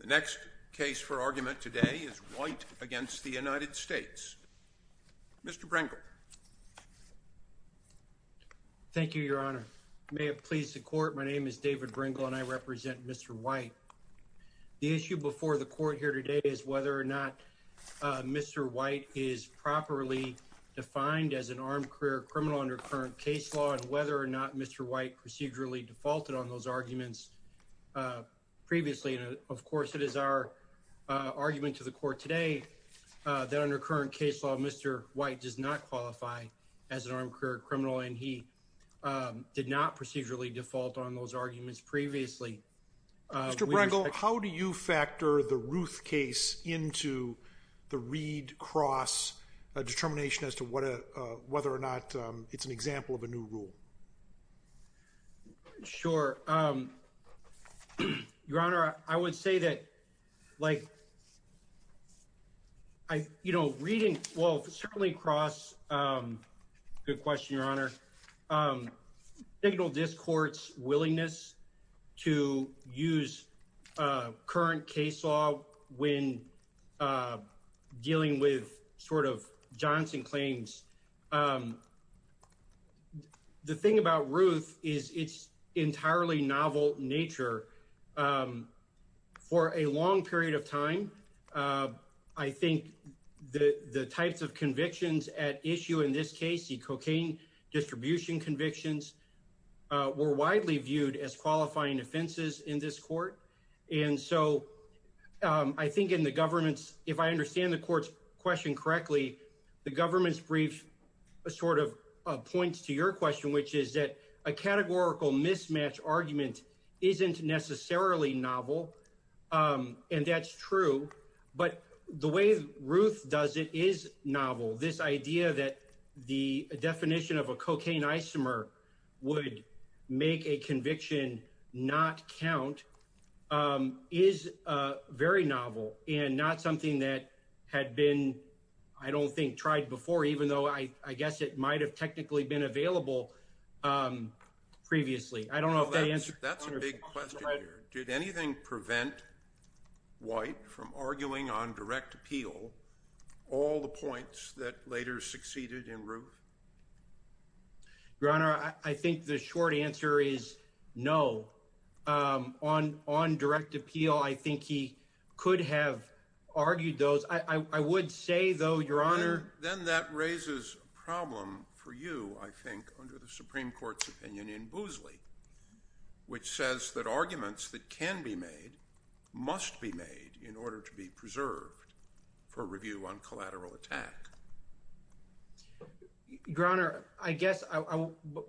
The next case for argument today is White v. United States. Mr. Brinkle. Thank you, Your Honor. I may have pleased the Court. My name is David Brinkle and I represent Mr. White. The issue before the Court here today is whether or not Mr. White is properly defined as an armed career criminal under current case law and whether or not Mr. White procedurally defaulted on those arguments previously. Of course, it is our argument to the Court today that under current case law Mr. White does not qualify as an armed career criminal and he did not procedurally default on those arguments previously. Mr. Brinkle, how do you factor the Ruth case into the Reed-Cross determination as to whether or not it is an example of a new rule? Sure. Your Honor, I would say that reading certainly across—good question, Your Honor—signal this Court's willingness to use current case law when dealing with sort of Johnson claims. The thing about Ruth is its entirely novel nature. For a long period of time, I think the types of convictions at issue in this case, the cocaine distribution convictions, were widely viewed as qualifying offenses in this Court. And so, I think in the Government's—if I understand the Court's question correctly, the Government's brief sort of points to your question, which is that a categorical mismatch argument isn't necessarily novel, and that's true. But the way Ruth does it is novel. This idea that the definition of a cocaine isomer would make a conviction not count is very novel and not something that had been, I don't think, tried before, even though I guess it might have technically been available previously. That's a big question here. Did anything prevent White from arguing on direct appeal all the points that later succeeded in Ruth? Your Honor, I think the short answer is no. On direct appeal, I think he could have argued those. I would say, though, Your Honor— Then that raises a problem for you, I think, under the Supreme Court's opinion in Boozley, which says that arguments that can be made must be made in order to be preserved for review on collateral attack. Your Honor, I guess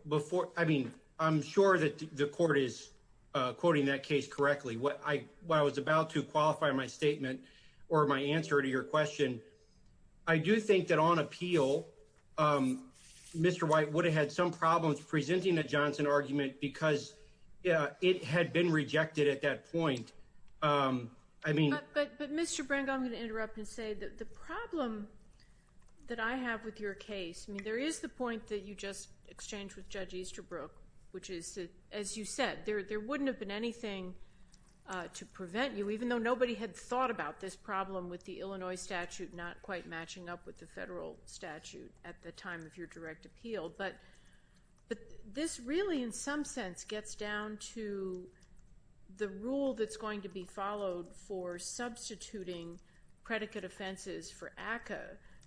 before—I mean, I'm sure that the Court is quoting that case correctly. What I was about to qualify in my statement or my answer to your question, I do think that on appeal, Mr. White would have had some problems presenting the Johnson argument because it had been rejected at that point. I mean— But, Mr. Brangham, I'm going to interrupt and say that the problem that I have with your case—I mean, there is the point that you just exchanged with Judge Easterbrook, which is, as you said, there wouldn't have been anything to prevent you, even though nobody had thought about this problem with the Illinois statute not quite matching up with the federal statute at the time of your direct appeal. But this really, in some sense, gets down to the rule that's going to be followed for substituting predicate offenses for ACCA.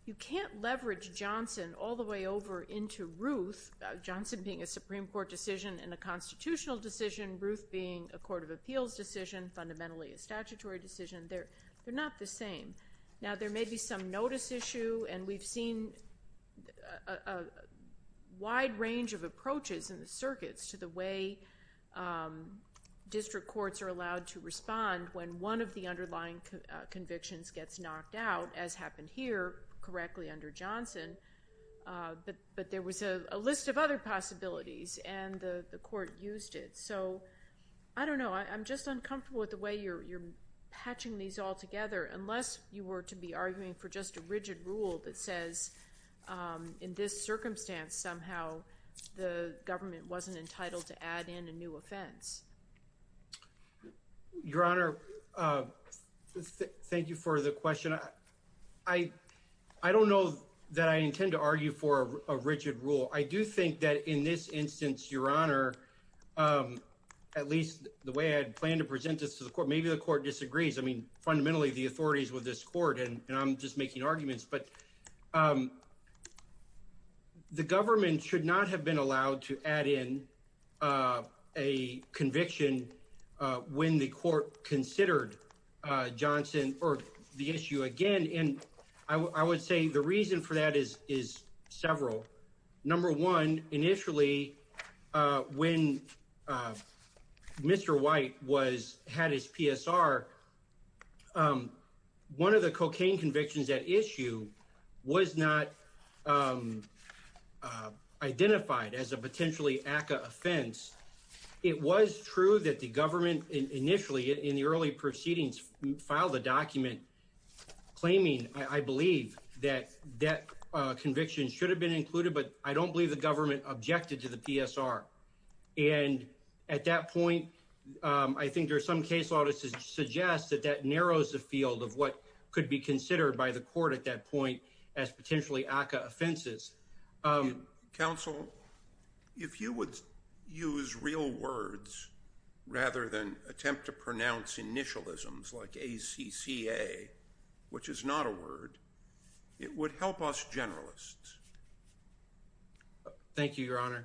You can't leverage Johnson all the way over into Ruth—Johnson being a Supreme Court decision and a constitutional decision, Ruth being a court of appeals decision, fundamentally a statutory decision. They're not the same. Now, there may be some notice issue, and we've seen a wide range of approaches in the circuits to the way district courts are allowed to respond when one of the underlying convictions gets knocked out, as happened here, correctly under Johnson. But there was a list of other possibilities, and the court used it. So, I don't know. I'm just uncomfortable with the way you're patching these all together, unless you were to be arguing for just a rigid rule that says, in this circumstance, somehow, the government wasn't entitled to add in a new offense. Your Honor, thank you for the question. I don't know that I intend to argue for a rigid rule. I do think that, in this instance, Your Honor, at least the way I had planned to present this to the court, maybe the court disagrees. I mean, fundamentally, the authorities were this court, and I'm just making arguments. But the government should not have been allowed to add in a conviction when the court considered Johnson or the issue again. And I would say the reason for that is several. Number one, initially, when Mr. White had his PSR, one of the cocaine convictions at issue was not identified as a potentially ACCA offense. It was true that the government initially, in the early proceedings, filed a document claiming, I believe, that that conviction should have been included, but I don't believe the government objected to the PSR. And at that point, I think there are some case audits that suggest that that narrows the field of what could be considered by the court at that point as potentially ACCA offenses. Counsel, if you would use real words rather than attempt to pronounce initialisms like ACCA, which is not a word, it would help us generalists. Thank you, Your Honor.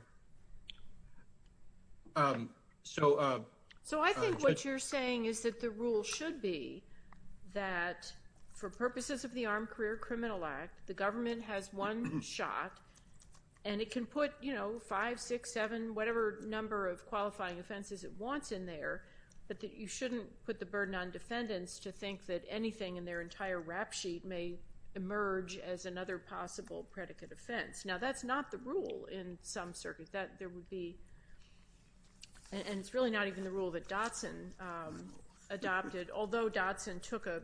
So I think what you're saying is that the rule should be that for purposes of the Armed Career Criminal Act, the government has one shot, and it can put five, six, seven, whatever number of qualifying offenses it wants in there, but that you shouldn't put the burden on defendants to think that anything in their entire rap sheet may emerge as another possible predicate offense. Now, that's not the rule in some circuits. And it's really not even the rule that Dotson adopted, although Dotson took an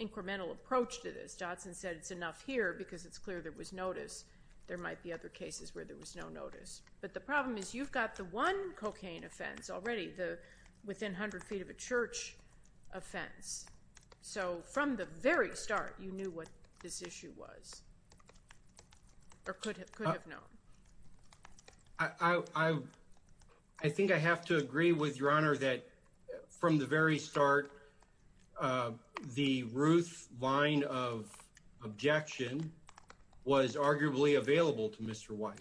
incremental approach to this. Dotson said it's enough here because it's clear there was notice. There might be other cases where there was no notice. But the problem is you've got the one cocaine offense already, the within 100 feet of a church offense. So from the very start, you knew what this issue was or could have known. I think I have to agree with Your Honor that from the very start, the Ruth line of objection was arguably available to Mr. White.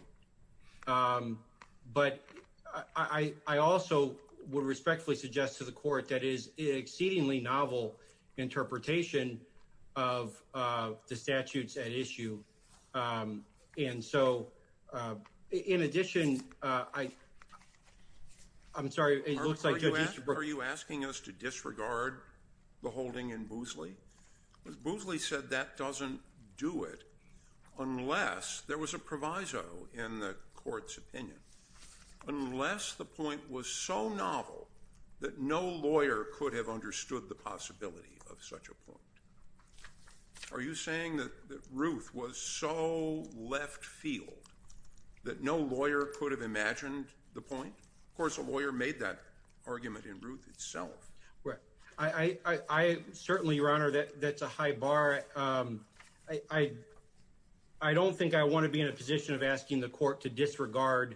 But I also would respectfully suggest to the court that is exceedingly novel interpretation of the statutes at issue. And so, in addition, I'm sorry. Are you asking us to disregard the holding in Boosley? Because Boosley said that doesn't do it unless there was a proviso in the court's opinion, unless the point was so novel that no lawyer could have understood the possibility of such a point. Are you saying that Ruth was so left field that no lawyer could have imagined the point? Of course, a lawyer made that argument in Ruth itself. Right. I certainly, Your Honor, that's a high bar. I don't think I want to be in a position of asking the court to disregard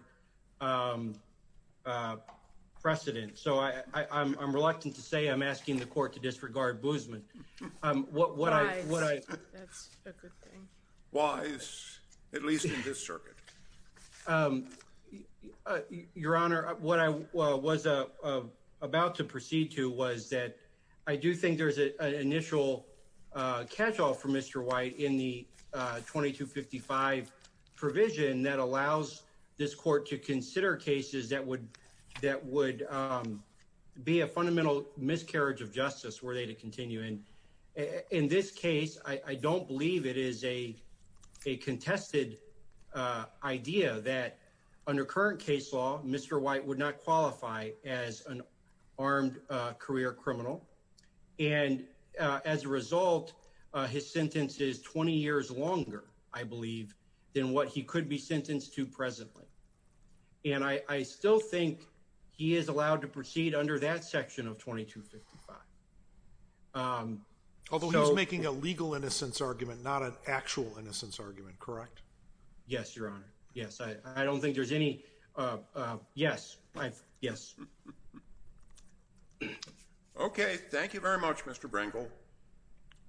precedent. So I'm reluctant to say I'm asking the court to disregard Boosman. Why? That's a good thing. Why? At least in this circuit. Your Honor, what I was about to proceed to was that I do think there's an initial catchall for Mr. White in the 2255 provision that allows this court to consider cases that would that would be a fundamental miscarriage of justice were they to continue. And in this case, I don't believe it is a contested idea that under current case law, Mr. White would not qualify as an armed career criminal. And as a result, his sentence is 20 years longer, I believe, than what he could be sentenced to presently. And I still think he is allowed to proceed under that section of 2255. Although he's making a legal innocence argument, not an actual innocence argument, correct? Yes, Your Honor. Yes. I don't think there's any. Yes. Yes. OK, thank you very much, Mr. Brinkle.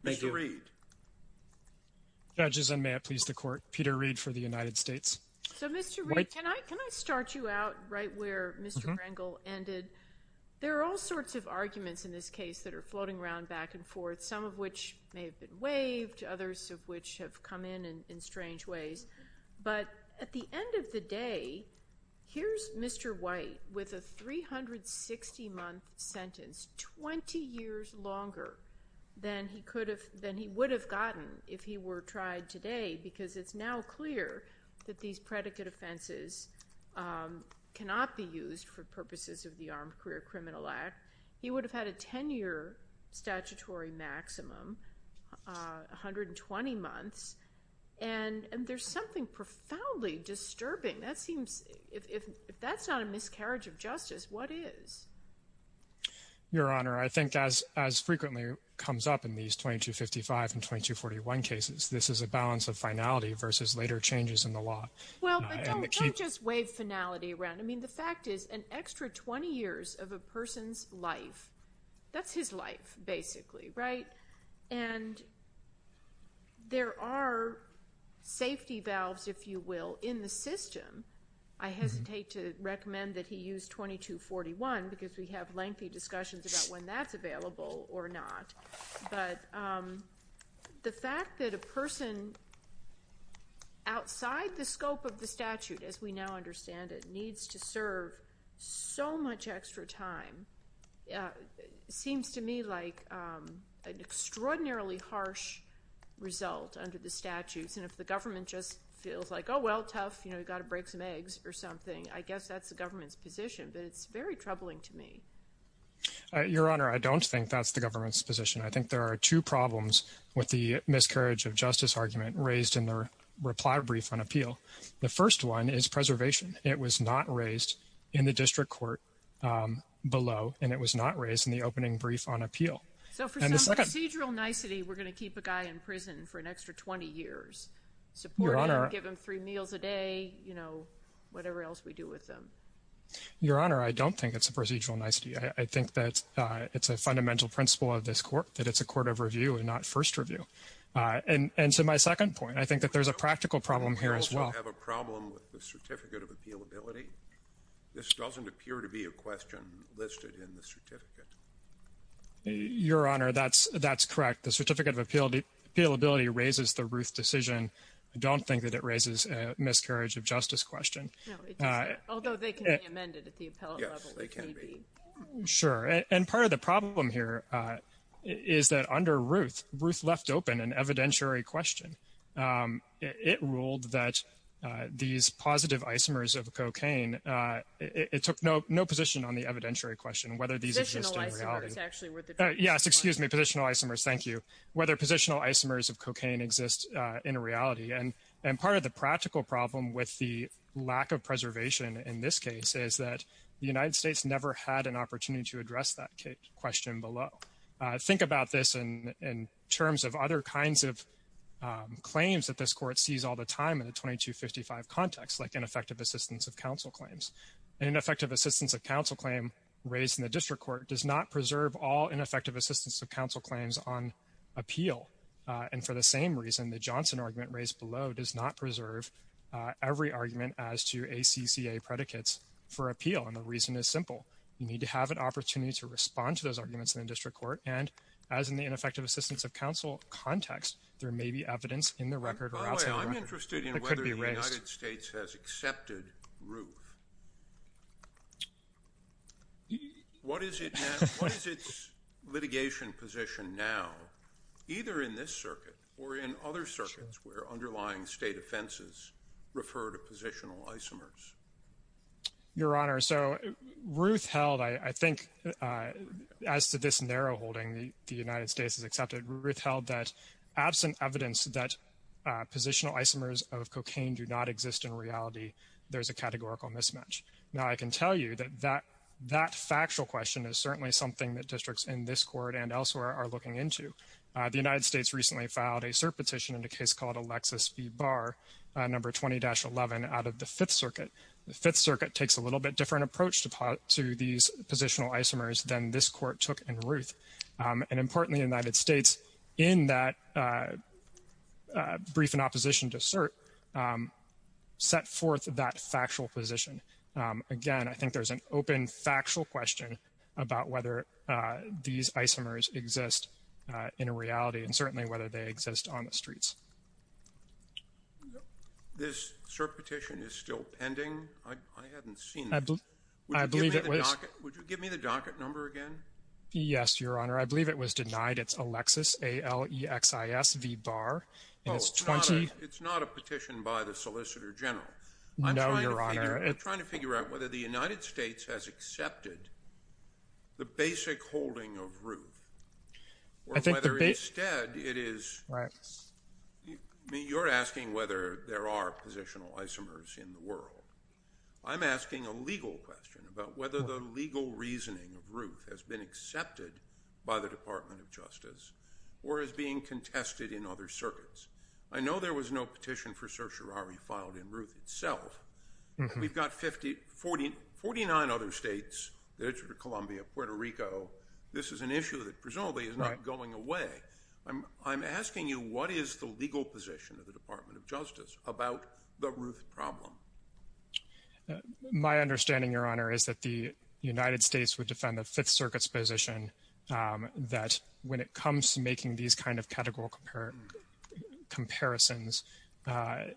Mr. Reed. Judges and may it please the court, Peter Reed for the United States. So, Mr. Reed, can I start you out right where Mr. Brinkle ended? There are all sorts of arguments in this case that are floating around back and forth, some of which may have been waived, others of which have come in in strange ways. But at the end of the day, here's Mr. White with a 360-month sentence, 20 years longer than he would have gotten if he were tried today, because it's now clear that these predicate offenses cannot be used for purposes of the Armed Career Criminal Act. He would have had a 10-year statutory maximum, 120 months. And there's something profoundly disturbing. That seems, if that's not a miscarriage of justice, what is? Your Honor, I think as frequently comes up in these 2255 and 2241 cases, this is a balance of finality versus later changes in the law. Well, but don't just wave finality around. I mean, the fact is an extra 20 years of a person's life, that's his life basically, right? And there are safety valves, if you will, in the system. I hesitate to recommend that he use 2241 because we have lengthy discussions about when that's available or not. But the fact that a person outside the scope of the statute, as we now understand it, needs to serve so much extra time, seems to me like an extraordinarily harsh result under the statutes. And if the government just feels like, oh, well, tough, you know, you've got to break some eggs or something, I guess that's the government's position, but it's very troubling to me. Your Honor, I don't think that's the government's position. I think there are two problems with the miscarriage of justice argument raised in the reply brief on appeal. The first one is preservation. It was not raised in the district court below, and it was not raised in the opening brief on appeal. So for some procedural nicety, we're going to keep a guy in prison for an extra 20 years, support him, give him three meals a day, you know, whatever else we do with them. Your Honor, I don't think it's a procedural nicety. I think that it's a fundamental principle of this court, that it's a court of review and not first review. And so my second point, I think that there's a practical problem here as well. We also have a problem with the certificate of appealability. This doesn't appear to be a question listed in the certificate. Your Honor, that's correct. The certificate of appealability raises the Ruth decision. I don't think that it raises a miscarriage of justice question. No, it doesn't, although they can be amended at the appellate level. Yes, they can be. Sure. And part of the problem here is that under Ruth, Ruth left open an evidentiary question. It ruled that these positive isomers of cocaine, it took no position on the evidentiary question, whether these exist in reality. Positional isomers actually were the truth. Yes, excuse me, positional isomers, thank you. Whether positional isomers of cocaine exist in reality. And part of the practical problem with the lack of preservation in this case is that the United States never had an opportunity to address that question below. Think about this in terms of other kinds of claims that this court sees all the time in the 2255 context, like ineffective assistance of counsel claims. Ineffective assistance of counsel claim raised in the district court does not preserve all ineffective assistance of counsel claims on appeal. And for the same reason, the Johnson argument raised below does not preserve every argument as to ACCA predicates for appeal. And the reason is simple. You need to have an opportunity to respond to those arguments in the district court. And as in the ineffective assistance of counsel context, there may be evidence in the record or outside the record that could be raised. By the way, I'm interested in whether the United States has accepted Ruth. What is its litigation position now, either in this circuit or in other circuits where underlying state offenses refer to positional isomers? Your Honor, so Ruth held, I think, as to this narrow holding the United States has accepted, Ruth held that absent evidence that positional isomers of cocaine do not exist in reality, there's a categorical mismatch. Now, I can tell you that that factual question is certainly something that districts in this court and elsewhere are looking into. The United States recently filed a cert petition in a case called Alexis v. Barr, number 20-11 out of the Fifth Circuit. The Fifth Circuit takes a little bit different approach to these positional isomers than this court took in Ruth. And importantly, the United States, in that brief in opposition to cert, set forth that factual position. Again, I think there's an open factual question about whether these isomers exist in a reality and certainly whether they exist on the streets. This cert petition is still pending? I haven't seen it. I believe it was. Would you give me the docket number again? Yes, Your Honor. I believe it was denied. It's Alexis, A-L-E-X-I-S v. Barr. Oh, it's not a petition by the Solicitor General. No, Your Honor. I'm trying to figure out whether the United States has accepted the basic holding of Ruth or whether instead it is. Right. I'm asking a legal question about whether the legal reasoning of Ruth has been accepted by the Department of Justice or is being contested in other circuits. I know there was no petition for certiorari filed in Ruth itself. We've got 49 other states, the District of Columbia, Puerto Rico. This is an issue that presumably is not going away. I'm asking you what is the legal position of the Department of Justice about the Ruth problem? My understanding, Your Honor, is that the United States would defend the Fifth Circuit's position that when it comes to making these kind of categorical comparisons, there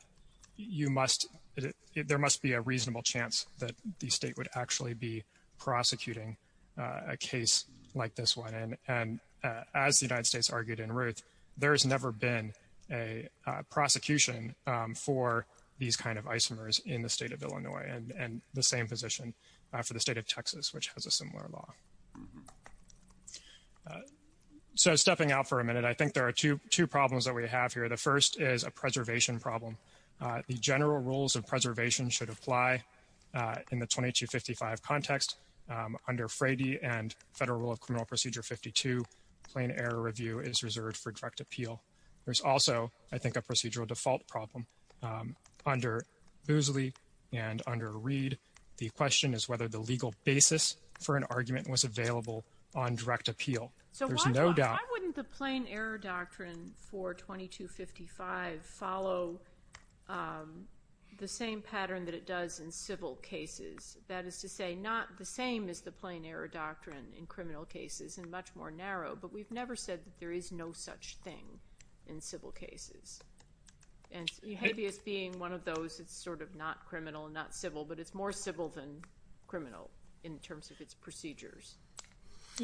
must be a reasonable chance that the state would actually be prosecuting a case like this one. And as the United States argued in Ruth, there has never been a prosecution for these kind of isomers in the state of Illinois and the same position for the state of Texas, which has a similar law. So stepping out for a minute, I think there are two problems that we have here. The first is a preservation problem. The general rules of preservation should apply in the 2255 context. Under Frady and Federal Rule of Criminal Procedure 52, plain error review is reserved for direct appeal. There's also, I think, a procedural default problem under Boosley and under Reed. The question is whether the legal basis for an argument was available on direct appeal. There's no doubt. So why wouldn't the plain error doctrine for 2255 follow the same pattern that it does in civil cases? That is to say, not the same as the plain error doctrine in criminal cases and much more narrow, but we've never said that there is no such thing in civil cases. And habeas being one of those, it's sort of not criminal and not civil, but it's more civil than criminal in terms of its procedures.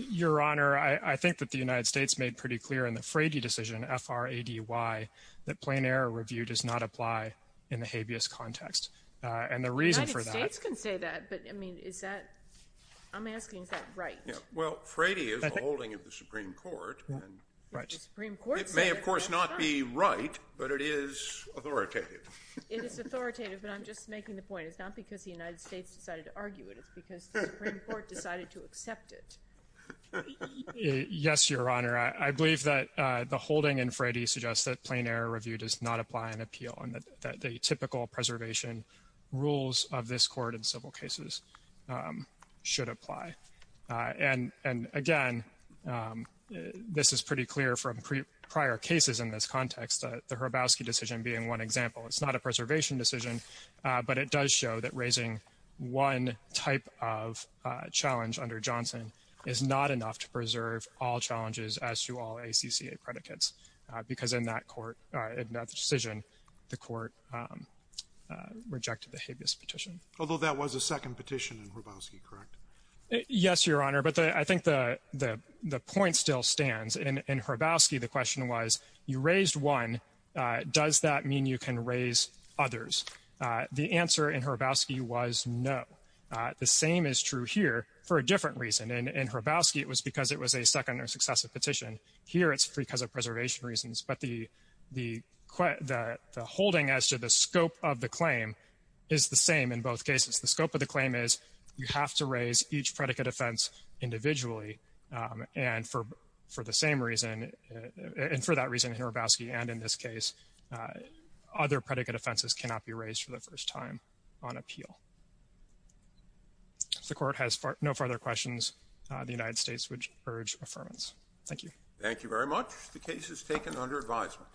Your Honor, I think that the United States made pretty clear in the Frady decision, F-R-A-D-Y, that plain error review does not apply in the habeas context. And the reason for that— The United States can say that, but, I mean, is that—I'm asking, is that right? Well, Frady is a holding of the Supreme Court. Right. The Supreme Court said— It may, of course, not be right, but it is authoritative. It is authoritative, but I'm just making the point it's not because the United States decided to argue it. It's because the Supreme Court decided to accept it. Yes, Your Honor. I believe that the holding in Frady suggests that plain error review does not apply in appeal and that the typical preservation rules of this Court in civil cases should apply. And, again, this is pretty clear from prior cases in this context, the Hrabowski decision being one example. It's not a preservation decision, but it does show that raising one type of challenge under Johnson is not enough to preserve all challenges as to all ACCA predicates, because in that court—in that decision, the court rejected the habeas petition. Although that was a second petition in Hrabowski, correct? Yes, Your Honor, but I think the point still stands. In Hrabowski, the question was, you raised one. Does that mean you can raise others? The answer in Hrabowski was no. The same is true here for a different reason. In Hrabowski, it was because it was a second or successive petition. Here, it's because of preservation reasons. But the holding as to the scope of the claim is the same in both cases. The scope of the claim is you have to raise each predicate offense individually. And for the same reason—and for that reason, in Hrabowski and in this case, other predicate offenses cannot be raised for the first time on appeal. If the Court has no further questions, the United States would urge affirmance. Thank you. Thank you very much. The case is taken under advisement.